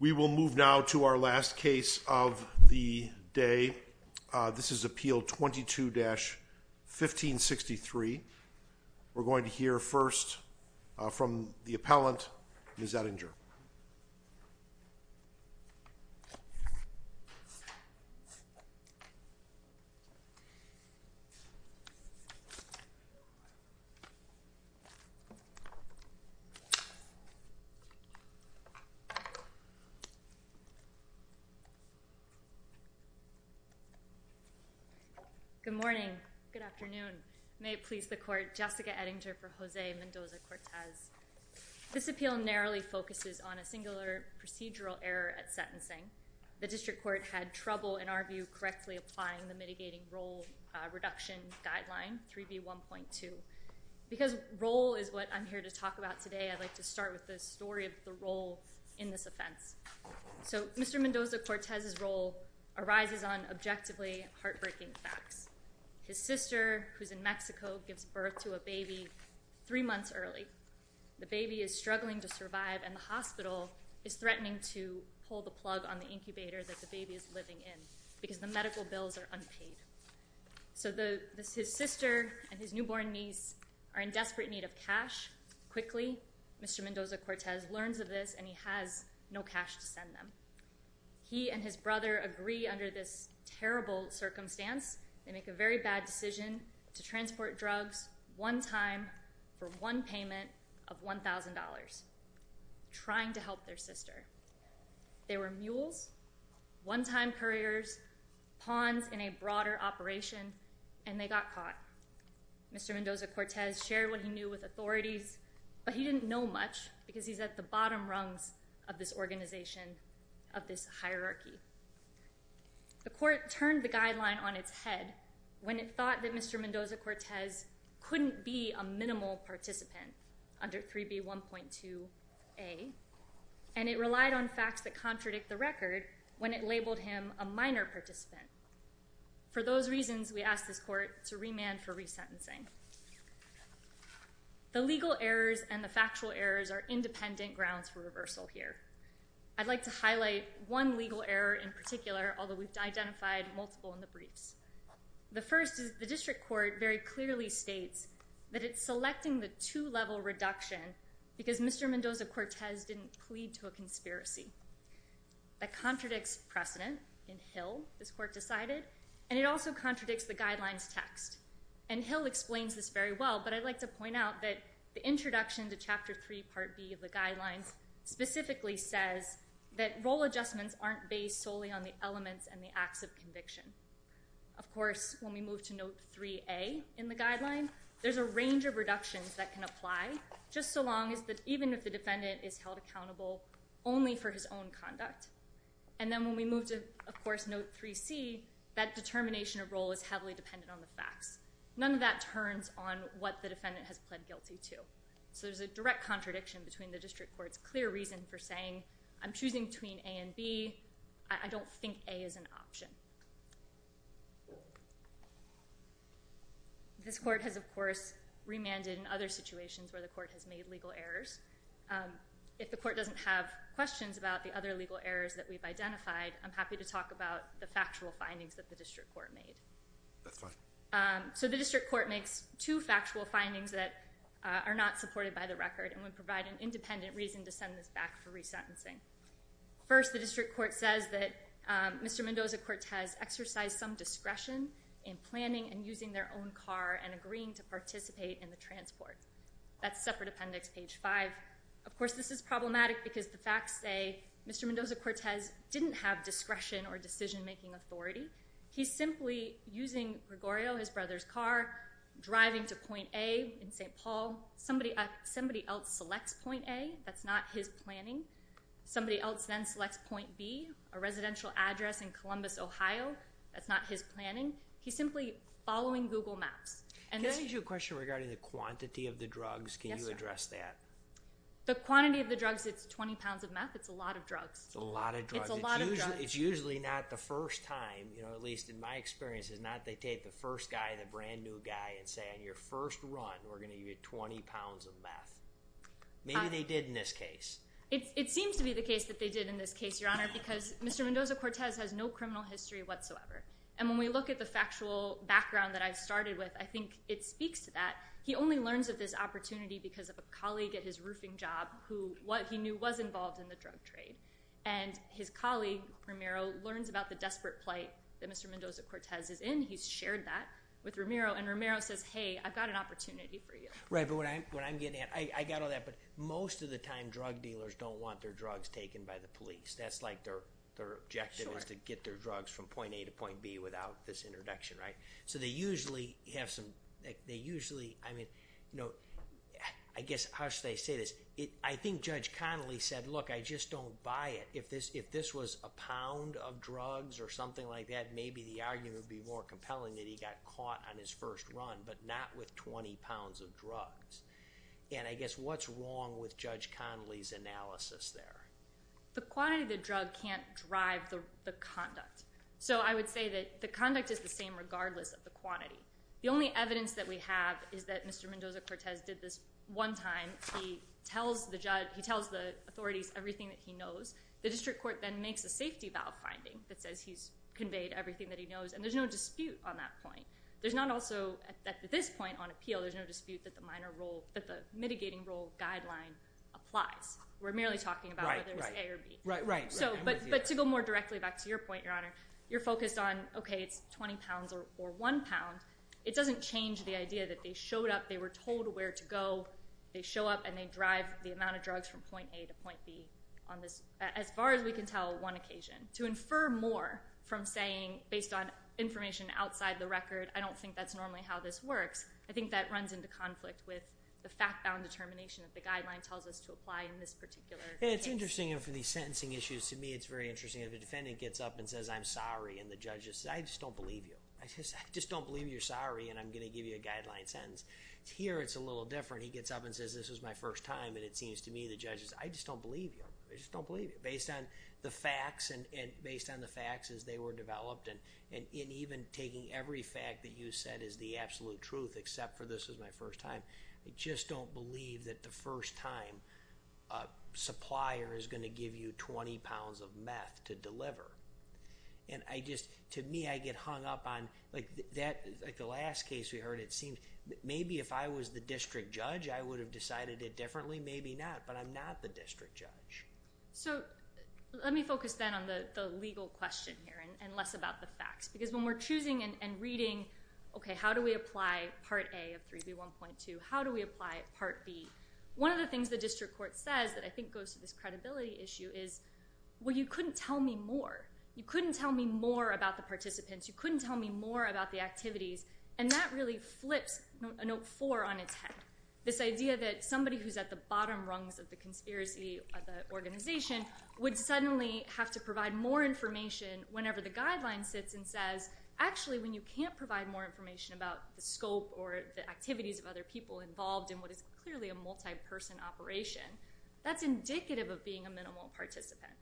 We will move now to our last case of the day. This is appeal 22-1563. We're going to hear first from the appellant, Ms. Edinger. Good morning. Good afternoon. May it please the court, Jessica Edinger for Jose Mendoza-Cortez. This appeal narrowly focuses on a singular procedural error at sentencing. The district court had trouble in our view correctly applying the mitigating role reduction guideline, 3B1.2. Because role is what I'm here to talk about today, I'd like to start with the story of the role in this offense. So Mr. Mendoza-Cortez's role arises on objectively heartbreaking facts. His sister, who's in Mexico, gives birth to a baby three months early. The baby is struggling to survive, and the hospital is threatening to pull the plug on the incubator that the baby is living in because the medical bills are unpaid. So his sister and his newborn niece are in desperate need of cash. Quickly, Mr. Mendoza-Cortez learns of this, and he has no cash to send them. He and his brother agree under this terrible circumstance. They make a very bad decision to transport drugs one time for one payment of $1,000, trying to help their sister. They were mules, one-time couriers, pawns in a broader operation, and they got caught. Mr. Mendoza-Cortez shared what he knew with authorities, but he didn't know much because he's at the bottom rungs of this organization, of this hierarchy. The court turned the guideline on its head when it thought that Mr. Mendoza-Cortez couldn't be a minimal participant under 3B1.2a, and it relied on facts that contradict the record when it labeled him a minor participant. For those reasons, we asked this court to remand for resentencing. The legal errors and the factual errors are independent grounds for reversal here. I'd like to highlight one legal error in particular, although we've identified multiple in the briefs. The first is the district court very clearly states that it's selecting the two-level reduction because Mr. Mendoza-Cortez didn't plead to a conspiracy. That contradicts precedent in Hill, this court decided, and it also contradicts the guideline's text. Hill explains this very well, but I'd like to point out that the introduction to Chapter 3, Part B of the guidelines specifically says that role adjustments aren't based solely on the elements and the acts of conviction. Of course, when we move to Note 3a in the guidelines, that can apply, just so long as that even if the defendant is held accountable only for his own conduct. And then when we move to, of course, Note 3c, that determination of role is heavily dependent on the facts. None of that turns on what the defendant has pled guilty to. So there's a direct contradiction between the district court's clear reason for saying, I'm choosing between A and B, I don't think A is an option. This court has, of course, remanded in other situations where the court has made legal errors. If the court doesn't have questions about the other legal errors that we've identified, I'm happy to talk about the factual findings that the district court made. That's fine. So the district court makes two factual findings that are not supported by the record and would provide an independent reason to send this back for resentencing. First, the district court says Mr. Mendoza-Cortez exercised some discretion in planning and using their own car and agreeing to participate in the transport. That's separate appendix, page 5. Of course, this is problematic because the facts say Mr. Mendoza-Cortez didn't have discretion or decision-making authority. He's simply using Gregorio, his brother's car, driving to point A in St. Paul. Somebody else selects point A. That's not his planning. Somebody else then selects point B, a residential address in Columbus, Ohio. That's not his planning. He's simply following Google Maps. Can I ask you a question regarding the quantity of the drugs? Can you address that? The quantity of the drugs, it's 20 pounds of meth. It's a lot of drugs. It's a lot of drugs. It's a lot of drugs. It's usually not the first time, at least in my experience, it's not they take the first guy, the brand new guy, and say, on your first run, we're going to give you 20 pounds of meth. Maybe they did in this case. It seems to be the case that they did in this case, Your Honor, because Mr. Mendoza-Cortez has no criminal history whatsoever. When we look at the factual background that I've started with, I think it speaks to that. He only learns of this opportunity because of a colleague at his roofing job who what he knew was involved in the drug trade. His colleague, Romero, learns about the desperate plight that Mr. Mendoza-Cortez is in. He's shared that with Romero. Romero says, hey, I've got an opportunity for you. Right, but what I'm getting at, I got all that, but most of the time, drug dealers don't want their drugs taken by the police. That's like their objective is to get their drugs from point A to point B without this introduction, right? So they usually have some, they usually, I mean, I guess, how should I say this? I think Judge Connolly said, look, I just don't buy it. If this was a pound of drugs or something like that, maybe the argument would be more And I guess what's wrong with Judge Connolly's analysis there? The quantity of the drug can't drive the conduct. So I would say that the conduct is the same regardless of the quantity. The only evidence that we have is that Mr. Mendoza-Cortez did this one time. He tells the judge, he tells the authorities everything that he knows. The district court then makes a safety valve finding that says he's conveyed everything that he knows, and there's no dispute on that point. There's not also, at this point on the mitigating role guideline applies. We're merely talking about whether it's A or B. But to go more directly back to your point, Your Honor, you're focused on, okay, it's 20 pounds or one pound. It doesn't change the idea that they showed up, they were told where to go, they show up and they drive the amount of drugs from point A to point B on this, as far as we can tell, one occasion. To infer more from saying, based on information outside the record, I don't think that's normally how this works. I think that runs into conflict with the fact-bound determination that the guideline tells us to apply in this particular case. It's interesting, and for the sentencing issues, to me it's very interesting. If a defendant gets up and says, I'm sorry, and the judge says, I just don't believe you. I just don't believe you're sorry, and I'm going to give you a guideline sentence. Here it's a little different. He gets up and says, this is my first time, and it seems to me the judge says, I just don't believe you. I just don't believe you. Based on the facts, and based on the facts as they were developed, and even taking every fact that you said is the absolute truth except for this is my first time, I just don't believe that the first time a supplier is going to give you 20 pounds of meth to deliver. To me, I get hung up on, like the last case we heard, it seemed maybe if I was the district judge, I would have decided it differently. Maybe not, but I'm not the district judge. Let me focus then on the legal question here, and less about the facts. When we're choosing and reading, how do we apply Part A of 3B1.2? How do we apply Part B? One of the things the district court says that I think goes to this credibility issue is, well, you couldn't tell me more. You couldn't tell me more about the participants. You couldn't tell me more about the activities, and that really flips Note 4 on its head. This idea that somebody who's at the bottom rungs of the conspiracy, of the organization, would suddenly have to testify, when you can't provide more information about the scope or the activities of other people involved in what is clearly a multi-person operation, that's indicative of being a minimal participant.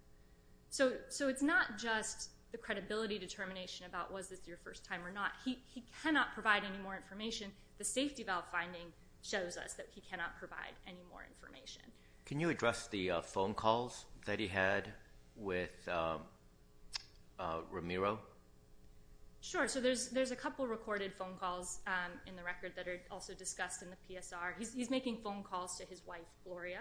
So it's not just the credibility determination about was this your first time or not. He cannot provide any more information. The safety valve finding shows us that he cannot provide any more information. Can you address the phone calls that he had with Ramiro? Sure. So there's a couple recorded phone calls in the record that are also discussed in the PSR. He's making phone calls to his wife, Gloria.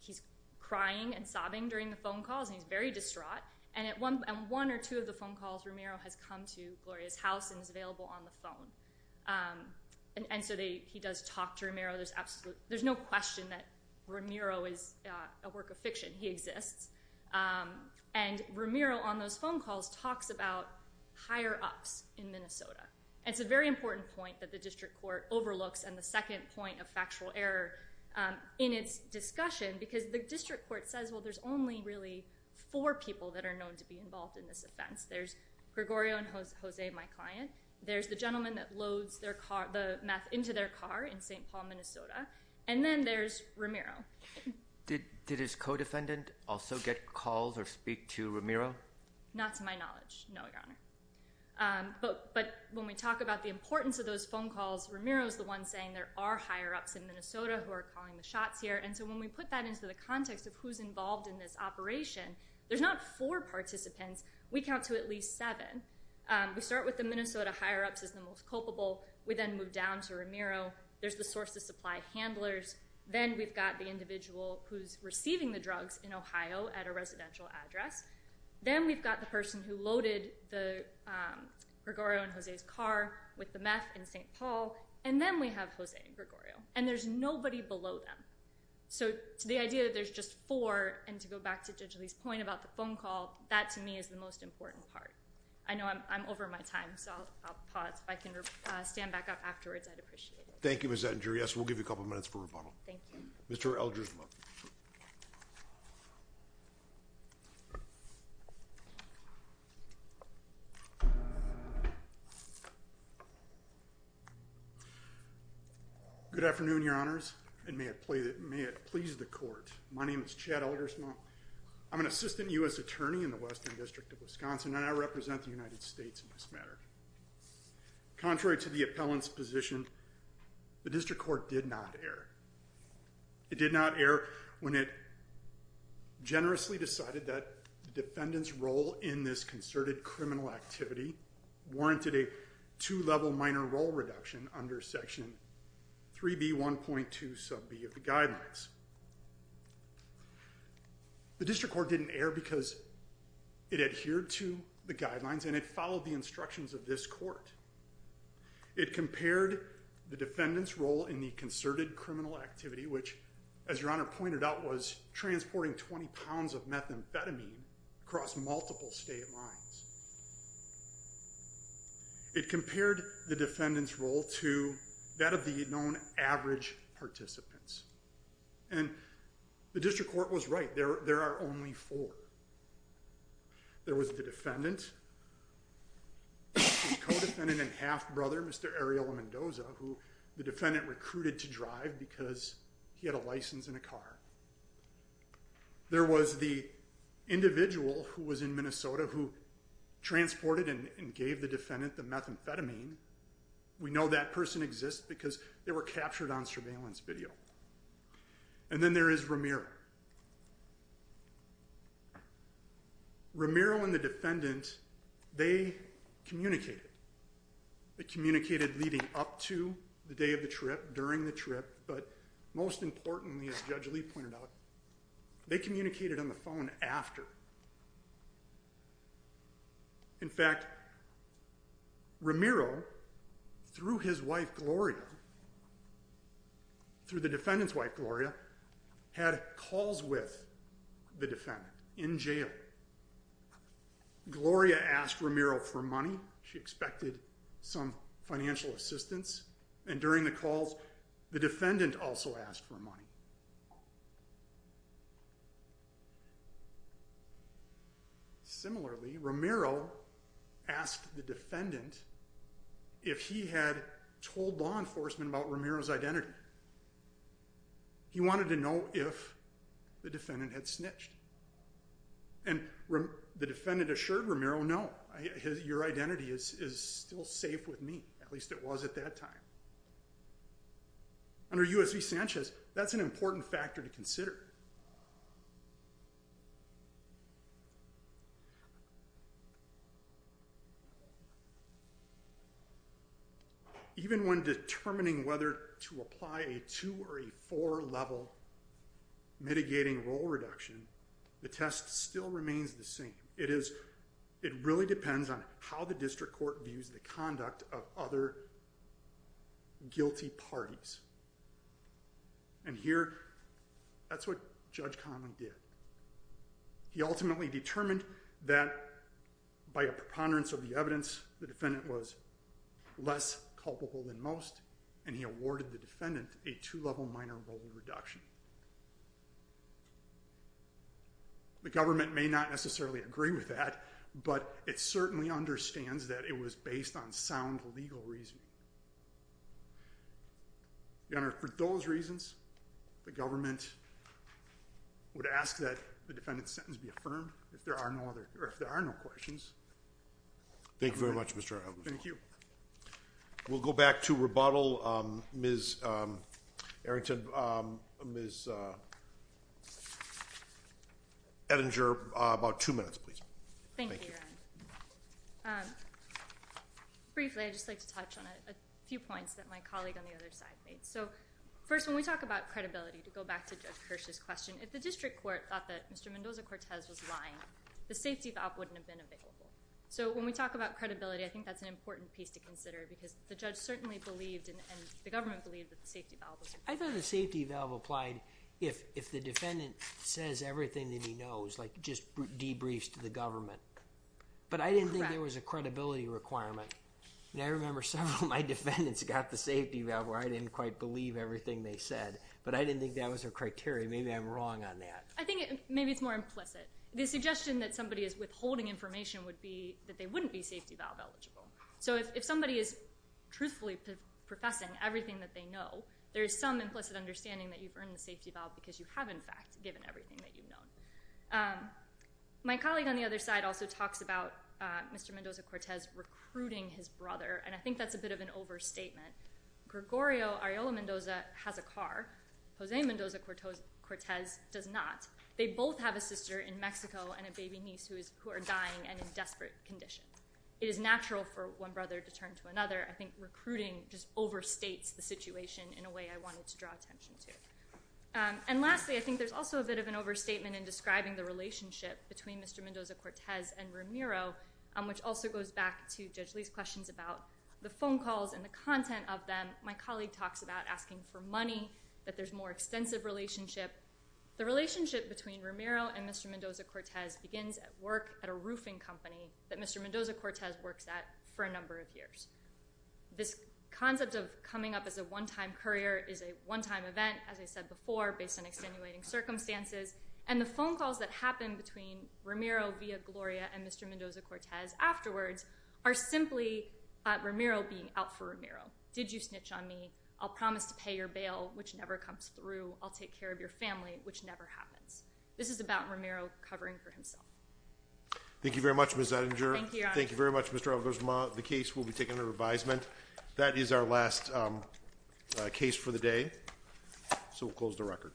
He's crying and sobbing during the phone calls, and he's very distraught. And at one or two of the phone calls, Ramiro has come to Gloria's house and is available on the phone. And so he does talk to Ramiro. There's no question that Ramiro is a work of fiction. He exists. And Ramiro, on those phone calls, talks about higher-ups in Minnesota. It's a very important point that the district court overlooks, and the second point of factual error in its discussion, because the district court says, well, there's only really four people that are known to be involved in this offense. There's Gregorio and Jose, my client. There's the gentleman that loads the meth into their car in St. Paul, Minnesota. And then there's Ramiro. Did his co-defendant also get calls or speak to Ramiro? Not to my knowledge, no, Your Honor. But when we talk about the importance of those phone calls, Ramiro is the one saying there are higher-ups in Minnesota who are calling the shots here. And so when we put that into the context of who's involved in this operation, there's not four participants. We count to at least seven. We start with the Minnesota higher-ups as the most culpable. We then move down to Ramiro. There's the source of supply handlers. Then we've got the individual who's receiving the drugs in Ohio at a residential address. Then we've got the person who loaded the Gregorio and Jose's car with the meth in St. Paul. And then we have Jose and Gregorio. And there's nobody below them. So the idea that there's just four, and to go back to Judge Lee's point about the phone call, that to me is the most important part. I know I'm over my time, so I'll pause. If I can stand back up afterwards, I'd appreciate it. Thank you, Ms. Attinger. Yes, we'll give you a couple minutes for rebuttal. Thank you. Mr. Eldersma. Good afternoon, Your Honors, and may it please the Court. My name is Chad Eldersma. I'm an assistant U.S. attorney in the Western District of Wisconsin, and I represent the United States in this matter. Contrary to the appellant's position, the District Court did not err. It did not err when it generously decided that the defendant's role in this concerted criminal activity warranted a two-level minor role reduction under Section 3B1.2 sub B of guidelines. The District Court didn't err because it adhered to the guidelines and it followed the instructions of this Court. It compared the defendant's role in the concerted criminal activity, which, as Your Honor pointed out, was transporting 20 pounds of methamphetamine across multiple state lines. It compared the defendant's role to that of the known average participants. And the District Court was right. There are only four. There was the defendant, the co-defendant and half-brother, Mr. Ariel Mendoza, who the defendant recruited to drive because he had a license and a car. There was the individual who was in Minnesota who transported and gave the defendant the methamphetamine. We know that person exists because they were captured on surveillance video. And then there is Ramiro. Ramiro and the defendant, they communicated. They communicated leading up to the day of the trip, during the trip, but most importantly, as Judge Lee pointed out, they communicated on the phone and after. In fact, Ramiro, through his wife Gloria, through the defendant's wife Gloria, had calls with the defendant in jail. Gloria asked Ramiro for money. She expected some money. Similarly, Ramiro asked the defendant if he had told law enforcement about Ramiro's identity. He wanted to know if the defendant had snitched. And the defendant assured Ramiro, no, your identity is still safe with me. At least it was at that time. Under U.S. v. Sanchez, that's an important factor to consider. Even when determining whether to apply a two or a four level mitigating role reduction, the test still remains the same. It is, it really is. And here, that's what Judge Conley did. He ultimately determined that by a preponderance of the evidence, the defendant was less culpable than most, and he awarded the defendant a two level minor role reduction. The government may not necessarily agree with that, but it would ask that the defendant's sentence be affirmed, if there are no other, or if there are no questions. Thank you very much, Mr. Elgin. Thank you. We'll go back to rebuttal. Ms. Errington, Ms. Ettinger, about two minutes, please. Thank you, Your Honor. Briefly, I'd just like to touch on a few points that my colleague on the other side made. First, when we talk about credibility, to go back to Judge Kirsch's question, if the district court thought that Mr. Mendoza-Cortez was lying, the safety valve wouldn't have been available. When we talk about credibility, I think that's an important piece to consider, because the judge certainly believed, and the government believed, that the safety valve was required. I thought the safety valve applied if the defendant says everything that he knows, like just debriefs to the government. But I didn't think there was a credibility requirement. I remember several of my defendants got the safety valve where I didn't quite believe everything they said, but I didn't think that was a criteria. Maybe I'm wrong on that. I think maybe it's more implicit. The suggestion that somebody is withholding information would be that they wouldn't be safety valve eligible. So if somebody is truthfully professing everything that they know, there is some implicit understanding that you've earned the safety valve because My colleague on the other side also talks about Mr. Mendoza-Cortez recruiting his brother, and I think that's a bit of an overstatement. Gregorio Arreola Mendoza has a car. Jose Mendoza-Cortez does not. They both have a sister in Mexico and a baby niece who are dying and in desperate condition. It is natural for one brother to turn to another. I think recruiting just overstates the situation in a way I wanted to draw attention to. And lastly, I think there's also a bit of an overstatement in describing the relationship between Mr. Mendoza-Cortez and Romero, which also goes back to Judge Lee's questions about the phone calls and the content of them. My colleague talks about asking for money, that there's more extensive relationship. The relationship between Romero and Mr. Mendoza-Cortez begins at work at a roofing company that Mr. Mendoza-Cortez works at for a number of years. This concept of coming up as a one-time courier is a one-time event, as I said before, based on extenuating circumstances, and the phone calls that happen between Romero via Gloria and Mr. Mendoza-Cortez afterwards are simply Romero being out for Romero. Did you snitch on me? I'll promise to pay your bail, which never comes through. I'll take care of your family, which never happens. This is about Romero covering for himself. Thank you very much, Ms. Ettinger. Thank you, Your Honor. Thank you very much, Mr. Albersma. The case will be taken under advisement. That is our last case for the day, so we'll close the record. Thank you.